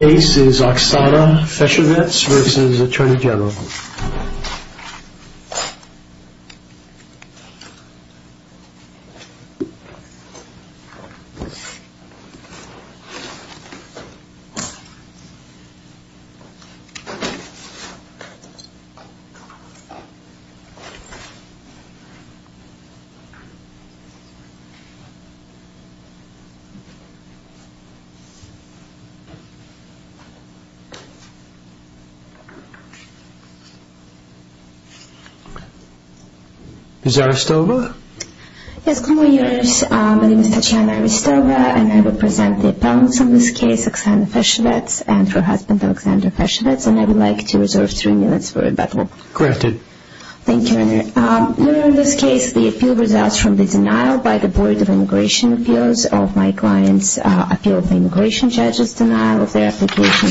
The case is Oksana Feshovets v. Atty Gen The appeal results from the denial by the Board of Immigration Appeals of my client's appeal of the immigration judge's denial of their application.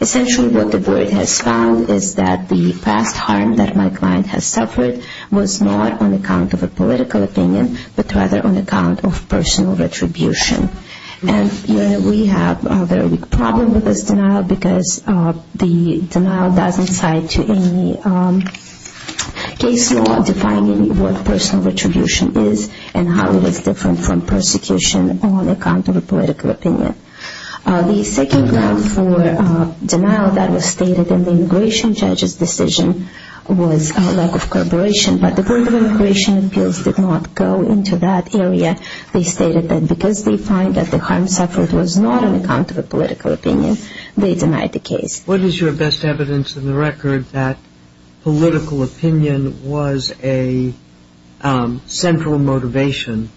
Essentially what the Board has found is that the past harm that my client has suffered was not on account of a political opinion, but rather on account of personal retribution. And we have a very big problem with this denial because the denial doesn't cite to any case law defining what personal retribution is and how it is different from persecution on account of a political opinion. The second ground for denial that was stated in the immigration judge's decision was lack of cooperation, but the Board of Immigration Appeals did not go into that area. They stated that because they find that the harm suffered was not on account of a political opinion, they denied the case. What is your best evidence in the record that political opinion was a central motivation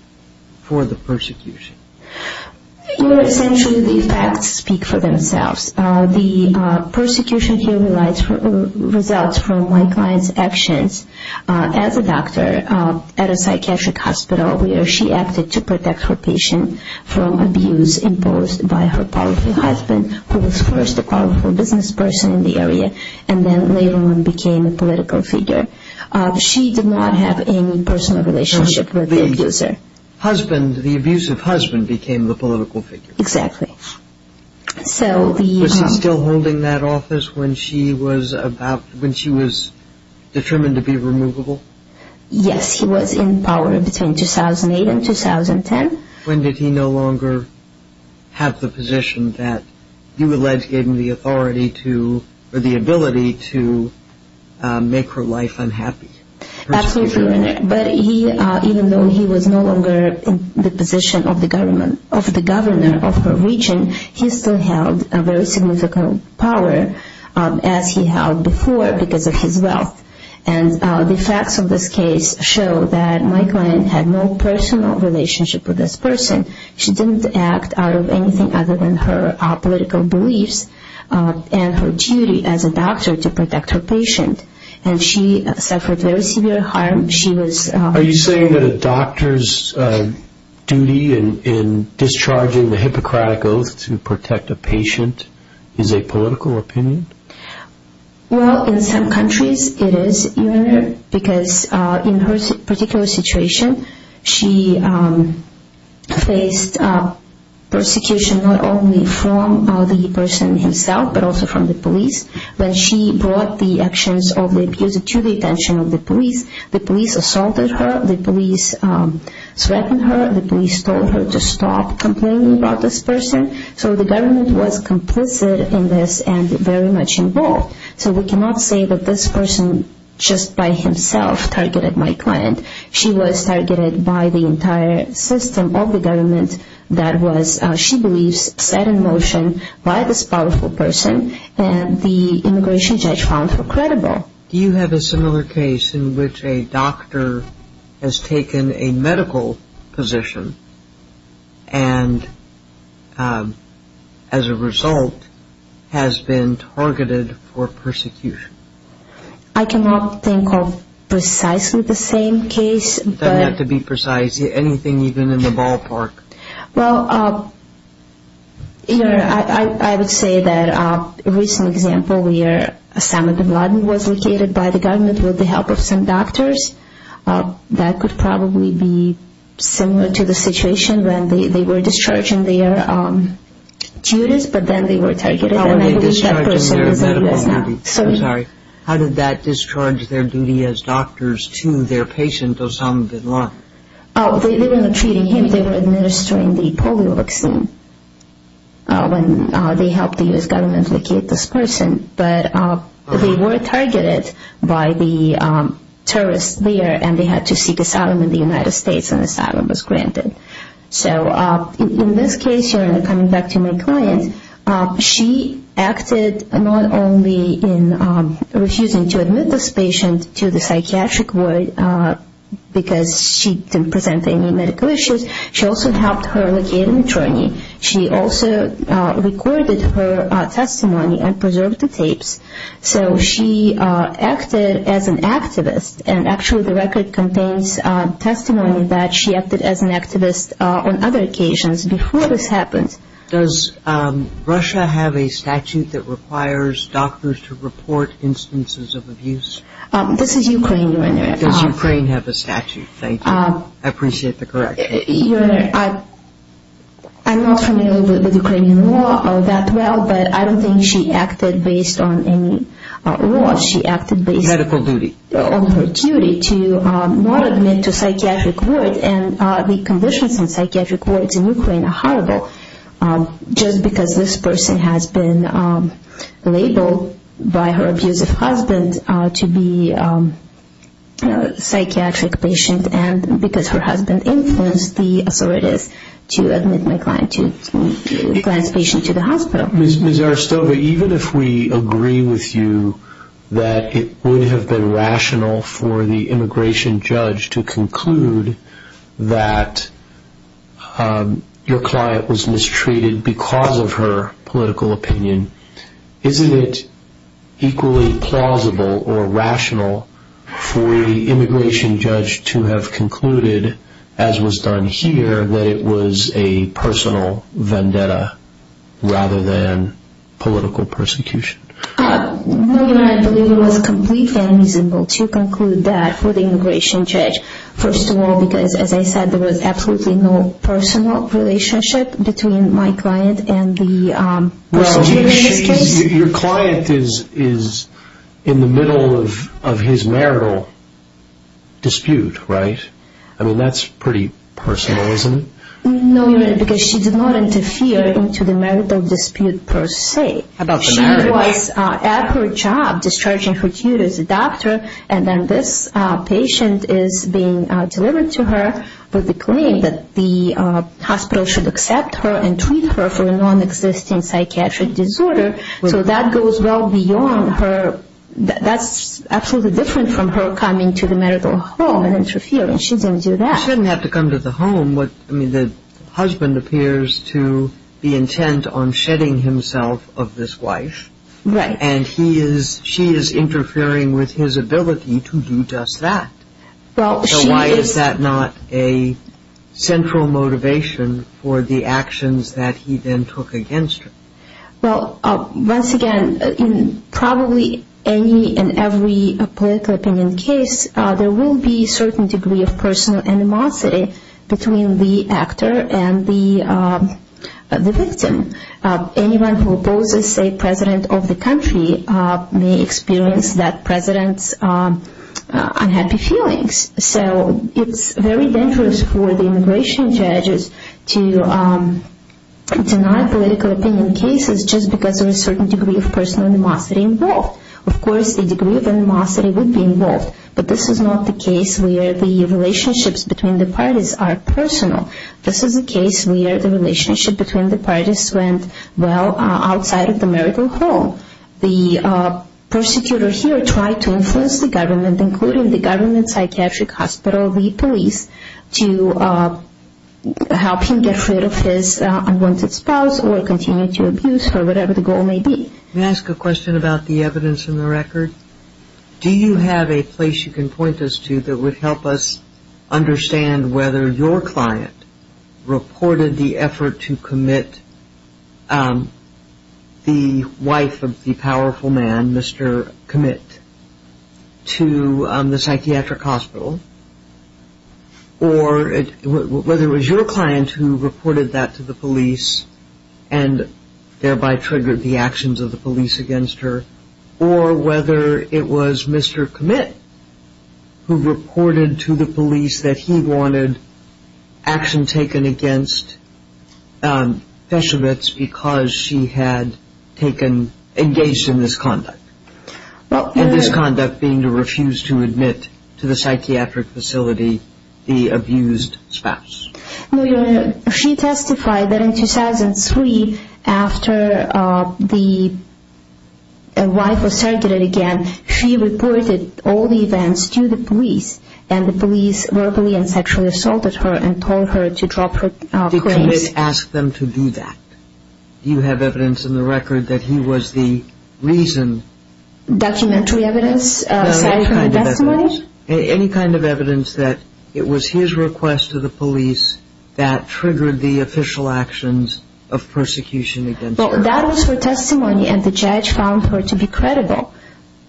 for the persecution? Essentially the facts speak for themselves. The persecution here results from my client's actions as a doctor at a psychiatric hospital where she acted to protect her patient from abuse imposed by her powerful husband, who was first a powerful business person in the area and then later on became a political figure. She did not have any personal relationship with the abuser. The abusive husband became the political figure. Exactly. Was he still holding that office when she was determined to be removable? Yes, he was in power between 2008 and 2010. When did he no longer have the position that you alleged gave him the ability to make her life unhappy? Absolutely. Even though he was no longer in the position of the governor of her region, he still held a very significant power as he held before because of his wealth. The facts of this case show that my client had no personal relationship with this person. She didn't act out of anything other than her political beliefs and her duty as a doctor to protect her patient. She suffered very severe harm. Are you saying that a doctor's duty in discharging the Hippocratic Oath to protect a patient is a political opinion? Well, in some countries it is, because in her particular situation she faced persecution not only from the person himself but also from the police. When she brought the actions of the abuser to the attention of the police, the police assaulted her. The police threatened her. The police told her to stop complaining about this person. So the government was complicit in this and very much involved. So we cannot say that this person just by himself targeted my client. She was targeted by the entire system of the government that she believes was set in motion by this powerful person. And the immigration judge found her credible. Do you have a similar case in which a doctor has taken a medical position and as a result has been targeted for persecution? I cannot think of precisely the same case. It doesn't have to be precise, anything even in the ballpark. Well, I would say that a recent example where Osama Bin Laden was located by the government with the help of some doctors, that could probably be similar to the situation when they were discharging their duties but then they were targeted. How were they discharging their medical duty? I'm sorry, how did that discharge their duty as doctors to their patient Osama Bin Laden? They were not treating him, they were administering the polio vaccine when they helped the U.S. government locate this person. But they were targeted by the terrorists there and they had to seek asylum in the United States and asylum was granted. So in this case here, coming back to my client, she acted not only in refusing to admit this patient to the psychiatric ward because she didn't present any medical issues, she also helped her locate an attorney. She also recorded her testimony and preserved the tapes. So she acted as an activist and actually the record contains testimony that she acted as an activist on other occasions before this happened. Does Russia have a statute that requires doctors to report instances of abuse? This is Ukraine, Your Honor. Does Ukraine have a statute? Thank you. I appreciate the correction. Your Honor, I'm not familiar with Ukrainian law that well but I don't think she acted based on any law. She acted based on her duty to not admit to psychiatric ward and the conditions in psychiatric wards in Ukraine are horrible. Just because this person has been labeled by her abusive husband to be a psychiatric patient and because her husband influenced the authorities to admit my client's patient to the hospital. Ms. Arstova, even if we agree with you that it would have been rational for the immigration judge to conclude that your client was mistreated because of her political opinion, isn't it equally plausible or rational for the immigration judge to have concluded as was done here that it was a personal vendetta rather than political persecution? Your Honor, I believe it was completely reasonable to conclude that for the immigration judge. First of all because as I said there was absolutely no personal relationship between my client and the person in this case. Your client is in the middle of his marital dispute, right? I mean that's pretty personal, isn't it? No, Your Honor, because she did not interfere into the marital dispute per se. She was at her job discharging her duties as a doctor and then this patient is being delivered to her with the claim that the hospital should accept her and treat her for a non-existent psychiatric disorder. So that goes well beyond her. That's absolutely different from her coming to the marital home and interfering. She didn't do that. She didn't have to come to the home. I mean the husband appears to be intent on shedding himself of this wife. Right. And she is interfering with his ability to do just that. So why is that not a central motivation for the actions that he then took against her? Well, once again, in probably any and every political opinion case, there will be a certain degree of personal animosity between the actor and the victim. Anyone who opposes a president of the country may experience that president's unhappy feelings. So it's very dangerous for the immigration judges to deny political opinion cases just because there is a certain degree of personal animosity involved. Of course, a degree of animosity would be involved, but this is not the case where the relationships between the parties are personal. This is a case where the relationship between the parties went well outside of the marital home. The persecutor here tried to influence the government, including the government psychiatric hospital lead police, to help him get rid of his unwanted spouse or continue to abuse her, whatever the goal may be. May I ask a question about the evidence in the record? Do you have a place you can point us to that would help us understand whether your client reported the effort to commit the wife of the powerful man, Mr. Commit, to the psychiatric hospital, or whether it was your client who reported that to the police and thereby triggered the actions of the police against her, or whether it was Mr. Commit who reported to the police that he wanted action taken against Peshevitz because she had engaged in this conduct, and this conduct being to refuse to admit to the psychiatric facility the abused spouse. No, Your Honor. She testified that in 2003, after the wife was surrogated again, she reported all the events to the police, and the police verbally and sexually assaulted her and told her to drop her claims. Did Commit ask them to do that? Do you have evidence in the record that he was the reason? Documentary evidence? No, any kind of evidence. Any kind of evidence that it was his request to the police that triggered the official actions of persecution against her? Well, that was her testimony, and the judge found her to be credible.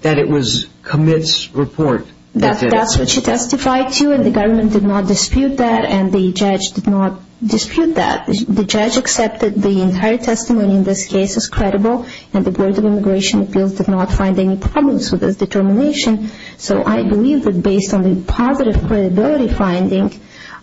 That it was Commit's report that did it? That's what she testified to, and the government did not dispute that, and the judge did not dispute that. The judge accepted the entire testimony in this case as credible, and the Board of Immigration Appeals did not find any problems with this determination. So I believe that based on the positive credibility finding,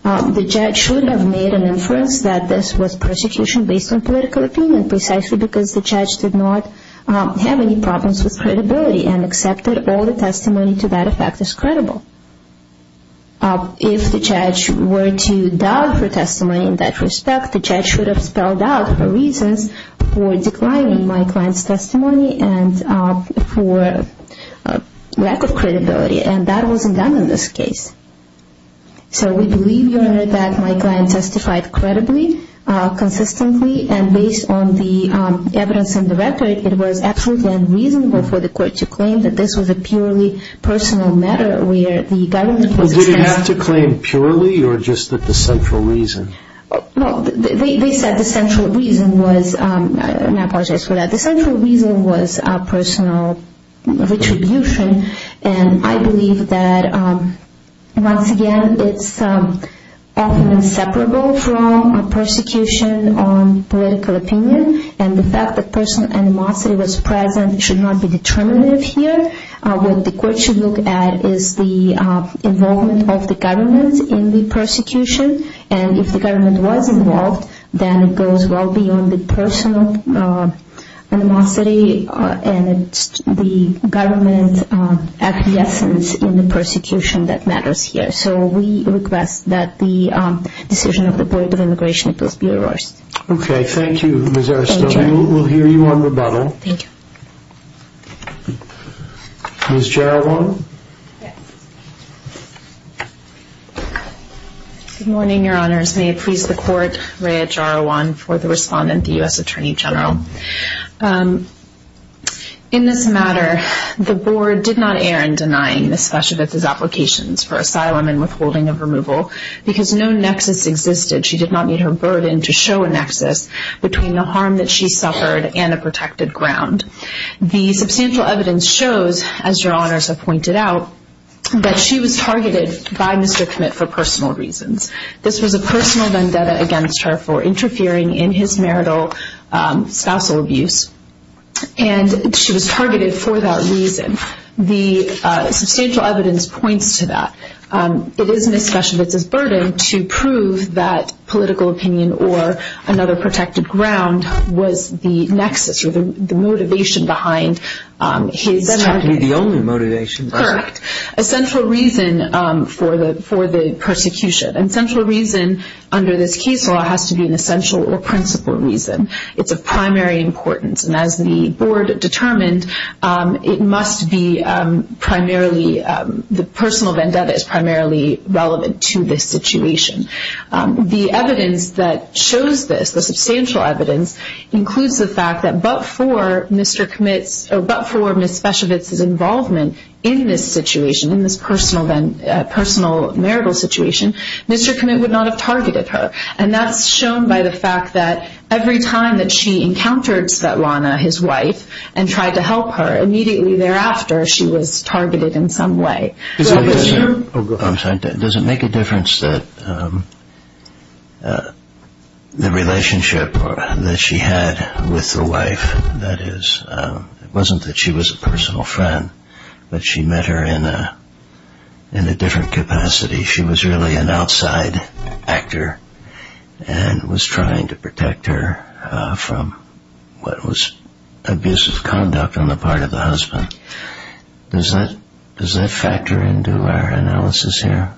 the judge should have made an inference that this was persecution based on political opinion, precisely because the judge did not have any problems with credibility and accepted all the testimony to that effect as credible. If the judge were to doubt her testimony in that respect, the judge should have spelled out her reasons for declining my client's testimony and for lack of credibility, and that wasn't done in this case. So we believe, Your Honor, that my client testified credibly, consistently, and based on the evidence in the record, it was absolutely unreasonable for the court to claim that this was a purely personal matter where the government was dispensed with. Would it have to claim purely, or just that the central reason? No, they said the central reason was, and I apologize for that, but the central reason was personal retribution, and I believe that, once again, it's often inseparable from persecution on political opinion, and the fact that personal animosity was present should not be determinative here. What the court should look at is the involvement of the government in the persecution, and if the government was involved, then it goes well beyond the personal animosity and the government's acquiescence in the persecution that matters here. So we request that the decision of the Board of Immigration Appeals be reversed. Okay. Thank you, Ms. Aristotle. We'll hear you on rebuttal. Thank you. Ms. Geraldine? Yes. Good morning, Your Honors. May it please the Court, Rhea Jarawan, for the respondent, the U.S. Attorney General. In this matter, the Board did not err in denying Ms. Fascivitz's applications for asylum and withholding of removal because no nexus existed. She did not meet her burden to show a nexus between the harm that she suffered and a protected ground. The substantial evidence shows, as Your Honors have pointed out, that she was targeted by Mr. Committ for personal reasons. This was a personal vendetta against her for interfering in his marital spousal abuse, and she was targeted for that reason. The substantial evidence points to that. It is Ms. Fascivitz's burden to prove that political opinion or another protected ground was the nexus or the motivation behind his denigration. It's technically the only motivation. Correct. A central reason for the persecution, and central reason under this case law has to be an essential or principal reason. It's of primary importance, and as the Board determined, it must be primarily the personal vendetta is primarily relevant to this situation. The evidence that shows this, the substantial evidence, includes the fact that but for Ms. Fascivitz's involvement in this situation, in this personal marital situation, Mr. Committ would not have targeted her. And that's shown by the fact that every time that she encountered Svetlana, his wife, and tried to help her, immediately thereafter she was targeted in some way. Does it make a difference that the relationship that she had with the wife, that is, it wasn't that she was a personal friend, but she met her in a different capacity. She was really an outside actor and was trying to protect her from what was abusive conduct on the part of the husband. Does that factor into our analysis here?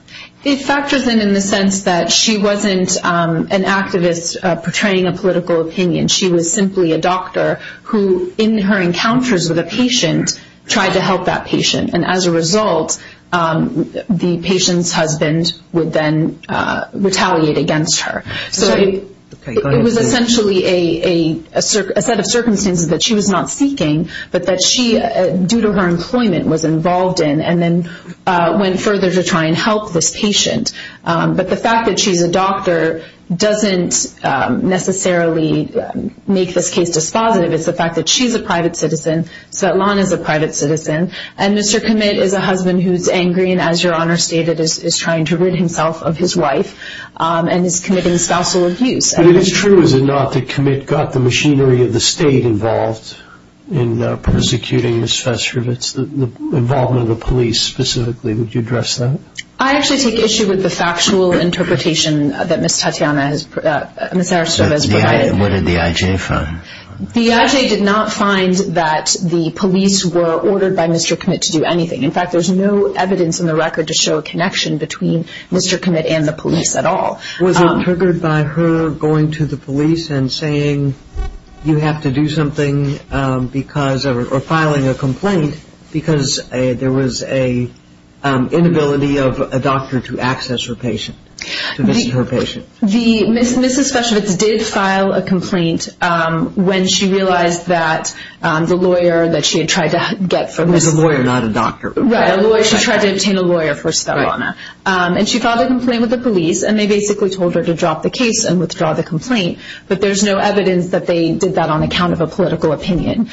It factors in the sense that she wasn't an activist portraying a political opinion. She was simply a doctor who, in her encounters with a patient, tried to help that patient. And as a result, the patient's husband would then retaliate against her. So it was essentially a set of circumstances that she was not seeking, but that she, due to her employment, was involved in, and then went further to try and help this patient. But the fact that she's a doctor doesn't necessarily make this case dispositive. It's the fact that she's a private citizen, Svetlana's a private citizen, and Mr. Committ is a husband who's angry and, as Your Honor stated, is trying to rid himself of his wife and is committing spousal abuse. But it is true, is it not, that Committ got the machinery of the State involved in persecuting Ms. Fesserovitz, the involvement of the police specifically. Would you address that? I actually take issue with the factual interpretation that Ms. Tatyana has provided. What did the I.J. find? The I.J. did not find that the police were ordered by Mr. Committ to do anything. In fact, there's no evidence in the record to show a connection between Mr. Committ and the police at all. Was it triggered by her going to the police and saying you have to do something or filing a complaint because there was an inability of a doctor to access her patient, to visit her patient? Mrs. Fesserovitz did file a complaint when she realized that the lawyer that she had tried to get for Ms. It was a lawyer, not a doctor. Right, a lawyer. She tried to obtain a lawyer for Svetlana. And she filed a complaint with the police and they basically told her to drop the case and withdraw the complaint. But there's no evidence that they did that on account of a political opinion.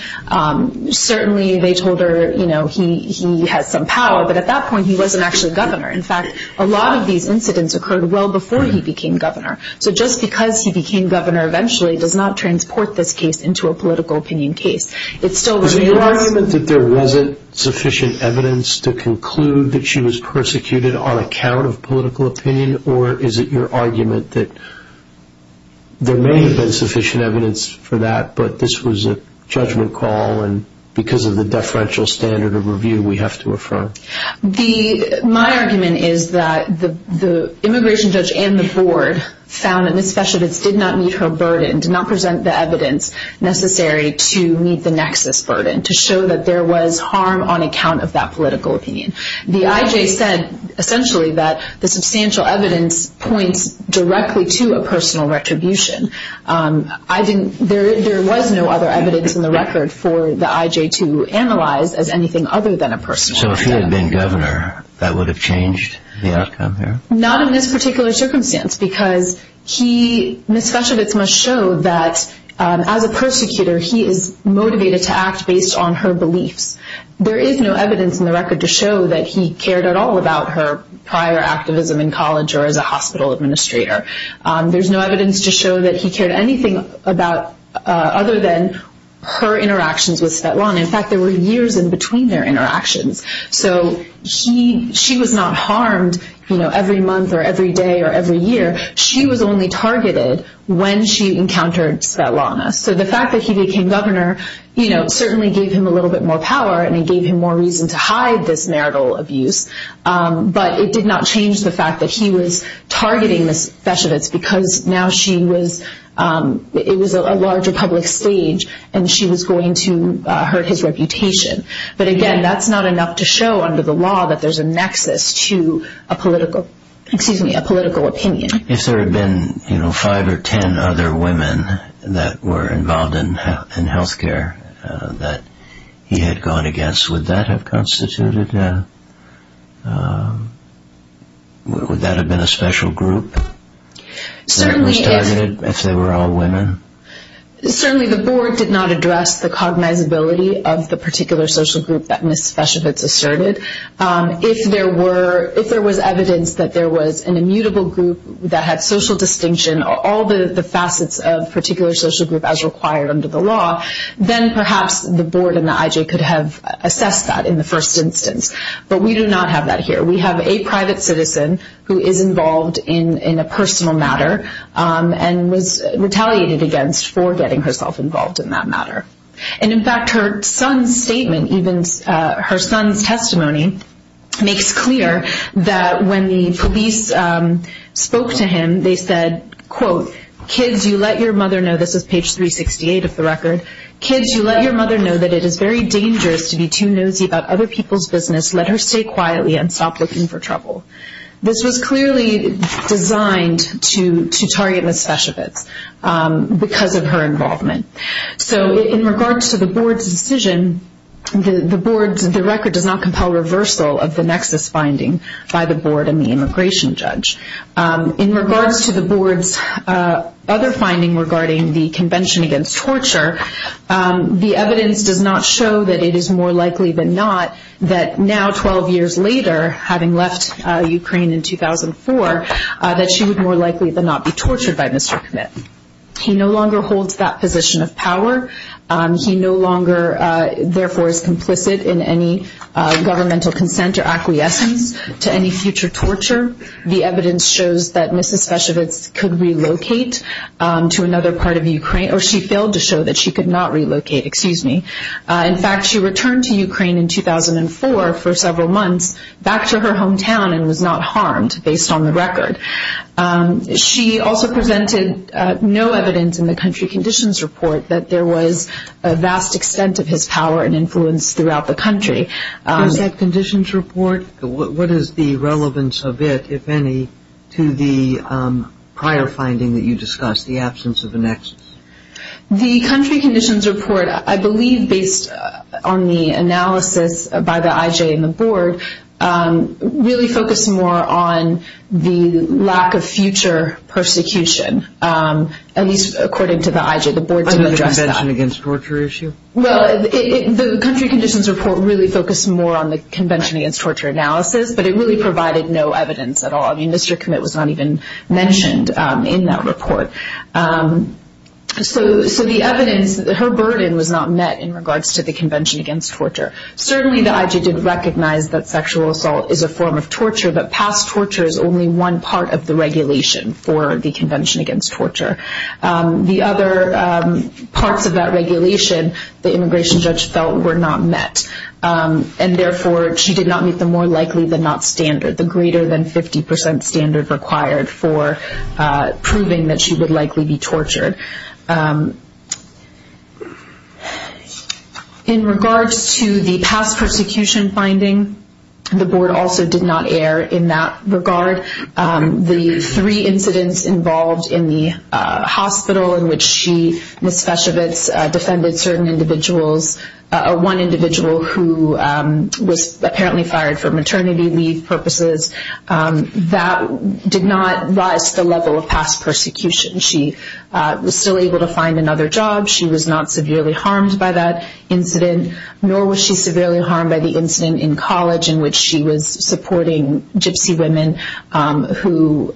Certainly they told her he has some power, but at that point he wasn't actually governor. In fact, a lot of these incidents occurred well before he became governor. So just because he became governor eventually does not transport this case into a political opinion case. Is it your argument that there wasn't sufficient evidence to conclude that she was persecuted on account of political opinion? Or is it your argument that there may have been sufficient evidence for that, but this was a judgment call and because of the deferential standard of review we have to affirm? My argument is that the immigration judge and the board found that Ms. Fesserovitz did not meet her burden, did not present the evidence necessary to meet the nexus burden, to show that there was harm on account of that political opinion. The I.J. said essentially that the substantial evidence points directly to a personal retribution. There was no other evidence in the record for the I.J. to analyze as anything other than a personal retribution. So if he had been governor, that would have changed the outcome here? Not in this particular circumstance because Ms. Fesserovitz must show that as a persecutor, he is motivated to act based on her beliefs. There is no evidence in the record to show that he cared at all about her prior activism in college or as a hospital administrator. There's no evidence to show that he cared anything other than her interactions with Svetlana. In fact, there were years in between their interactions. So she was not harmed every month or every day or every year. She was only targeted when she encountered Svetlana. So the fact that he became governor certainly gave him a little bit more power and it gave him more reason to hide this marital abuse. But it did not change the fact that he was targeting Ms. Fesserovitz because now it was a larger public stage and she was going to hurt his reputation. But again, that's not enough to show under the law that there's a nexus to a political opinion. If there had been five or ten other women that were involved in health care that he had gone against, would that have been a special group that was targeted if they were all women? Certainly the board did not address the cognizability of the particular social group that Ms. Fesserovitz asserted. If there was evidence that there was an immutable group that had social distinction, all the facets of a particular social group as required under the law, then perhaps the board and the IJ could have assessed that in the first instance. But we do not have that here. We have a private citizen who is involved in a personal matter and was retaliated against for getting herself involved in that matter. And in fact, her son's statement, even her son's testimony, makes clear that when the police spoke to him, they said, quote, kids, you let your mother know, this is page 368 of the record, kids, you let your mother know that it is very dangerous to be too nosy about other people's business. Let her stay quietly and stop looking for trouble. This was clearly designed to target Ms. Fesserovitz because of her involvement. So in regards to the board's decision, the record does not compel reversal of the nexus finding by the board and the immigration judge. In regards to the board's other finding regarding the Convention Against Torture, the evidence does not show that it is more likely than not that now, 12 years later, having left Ukraine in 2004, that she would more likely than not be tortured by Mr. Kmit. He no longer holds that position of power. He no longer, therefore, is complicit in any governmental consent or acquiescence to any future torture. The evidence shows that Mrs. Fesserovitz could relocate to another part of Ukraine, or she failed to show that she could not relocate, excuse me. In fact, she returned to Ukraine in 2004 for several months back to her hometown and was not harmed based on the record. She also presented no evidence in the country conditions report that there was a vast extent of his power and influence throughout the country. In that conditions report, what is the relevance of it, if any, to the prior finding that you discussed, the absence of a nexus? The country conditions report, I believe, based on the analysis by the IJ and the board, really focused more on the lack of future persecution, at least according to the IJ. The board didn't address that. On the Convention Against Torture issue? Well, the country conditions report really focused more on the Convention Against Torture analysis, but it really provided no evidence at all. I mean, Mr. Committ was not even mentioned in that report. So the evidence, her burden was not met in regards to the Convention Against Torture. Certainly the IJ did recognize that sexual assault is a form of torture, but past torture is only one part of the regulation for the Convention Against Torture. The other parts of that regulation, the immigration judge felt, were not met, and therefore she did not meet the more likely than not standard, the greater than 50% standard required for proving that she would likely be tortured. In regards to the past persecution finding, the board also did not air in that regard. The three incidents involved in the hospital in which she, Ms. Feshovitz, defended certain individuals, one individual who was apparently fired for maternity leave purposes, that did not rise to the level of past persecution. She was still able to find another job. She was not severely harmed by that incident, nor was she severely harmed by the incident in college in which she was supporting gypsy women who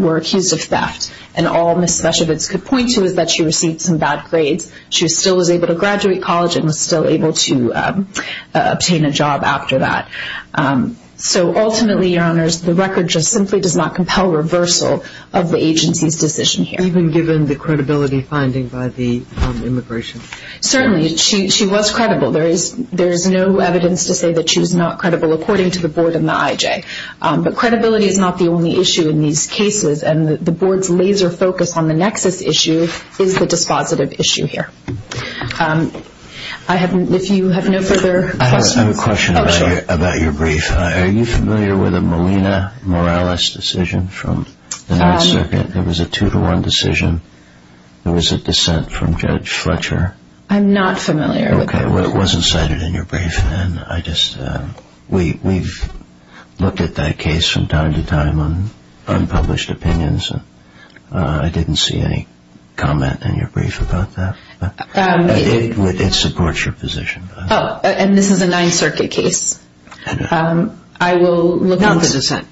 were accused of theft. And all Ms. Feshovitz could point to is that she received some bad grades. She still was able to graduate college and was still able to obtain a job after that. So ultimately, Your Honors, the record just simply does not compel reversal of the agency's decision here. Even given the credibility finding by the immigration judge? Certainly. She was credible. There is no evidence to say that she was not credible according to the board and the IJ. But credibility is not the only issue in these cases, and the board's laser focus on the nexus issue is the dispositive issue here. If you have no further questions? I have a question about your brief. Are you familiar with the Molina-Morales decision from the 9th Circuit? It was a two-to-one decision. There was a dissent from Judge Fletcher. I'm not familiar with that. Okay. Well, it wasn't cited in your brief. We've looked at that case from time to time on unpublished opinions. I didn't see any comment in your brief about that. It supports your position. Oh, and this is a 9th Circuit case. Not the dissent.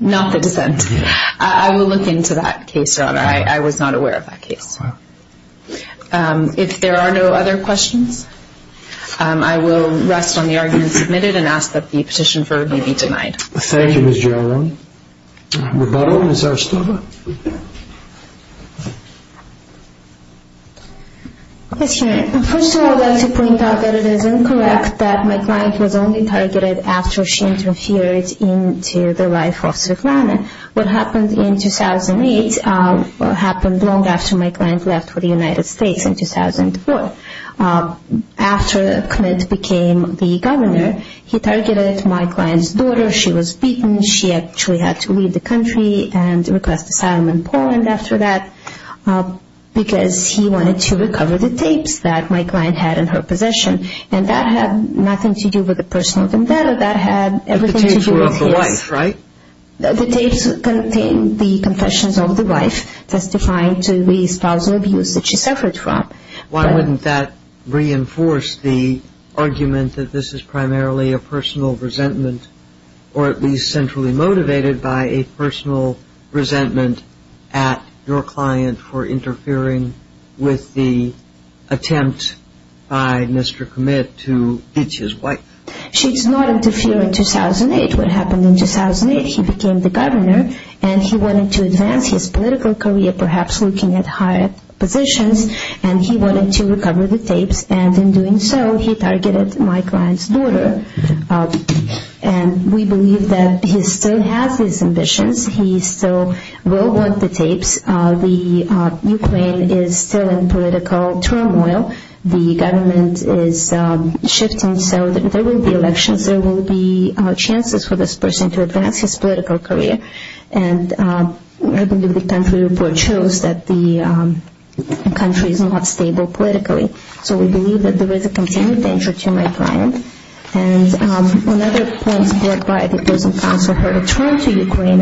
Not the dissent. I will look into that case, Your Honor. I was not aware of that case. If there are no other questions, I will rest on the argument submitted and ask that the petition be denied. Thank you, Ms. Girono. Rebuttal, Ms. Arstova. Yes, Your Honor. First of all, I would like to point out that it is incorrect that my client was only targeted after she interfered into the life of Svetlana. What happened in 2008 happened long after my client left for the United States in 2004. After Clint became the governor, he targeted my client's daughter. She was beaten. She actually had to leave the country and request asylum in Poland after that because he wanted to recover the tapes that my client had in her possession, and that had nothing to do with the personal vendetta. But the tapes were of the wife, right? The tapes contained the confessions of the wife testifying to the espousal abuse that she suffered from. Why wouldn't that reinforce the argument that this is primarily a personal resentment or at least centrally motivated by a personal resentment at your client for interfering with the attempt by Mr. Kmit to hit his wife? She did not interfere in 2008. What happened in 2008, he became the governor, and he wanted to advance his political career, perhaps looking at higher positions, and he wanted to recover the tapes. And in doing so, he targeted my client's daughter. And we believe that he still has these ambitions. He still will want the tapes. The Ukraine is still in political turmoil. The government is shifting, so there will be elections. There will be chances for this person to advance his political career. And I believe the country report shows that the country is not stable politically. So we believe that there is a continued danger to my client. And on other points brought by the prison counsel, her return to Ukraine,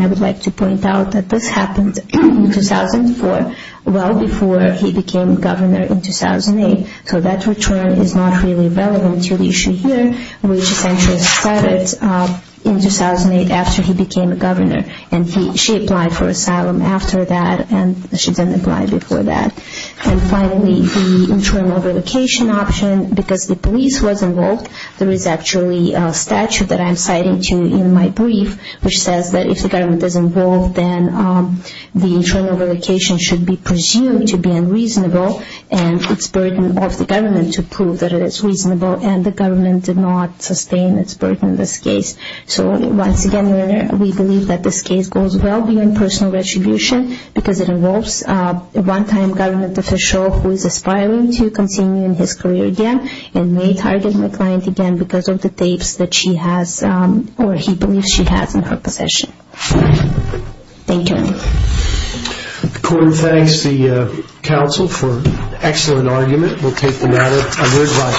well before he became governor in 2008. So that return is not really relevant to the issue here, which essentially started in 2008 after he became governor. And she applied for asylum after that, and she didn't apply before that. And finally, the internal relocation option, because the police was involved, there is actually a statute that I'm citing to you in my brief, which says that if the government is involved, then the internal relocation should be presumed to be unreasonable and it's burden of the government to prove that it is reasonable. And the government did not sustain its burden in this case. So once again, we believe that this case goes well beyond personal retribution because it involves a one-time government official who is aspiring to continue in his career again and may target my client again because of the tapes that she has, or he believes she has in her possession. Thank you. The court thanks the counsel for an excellent argument. We'll take the matter under advice.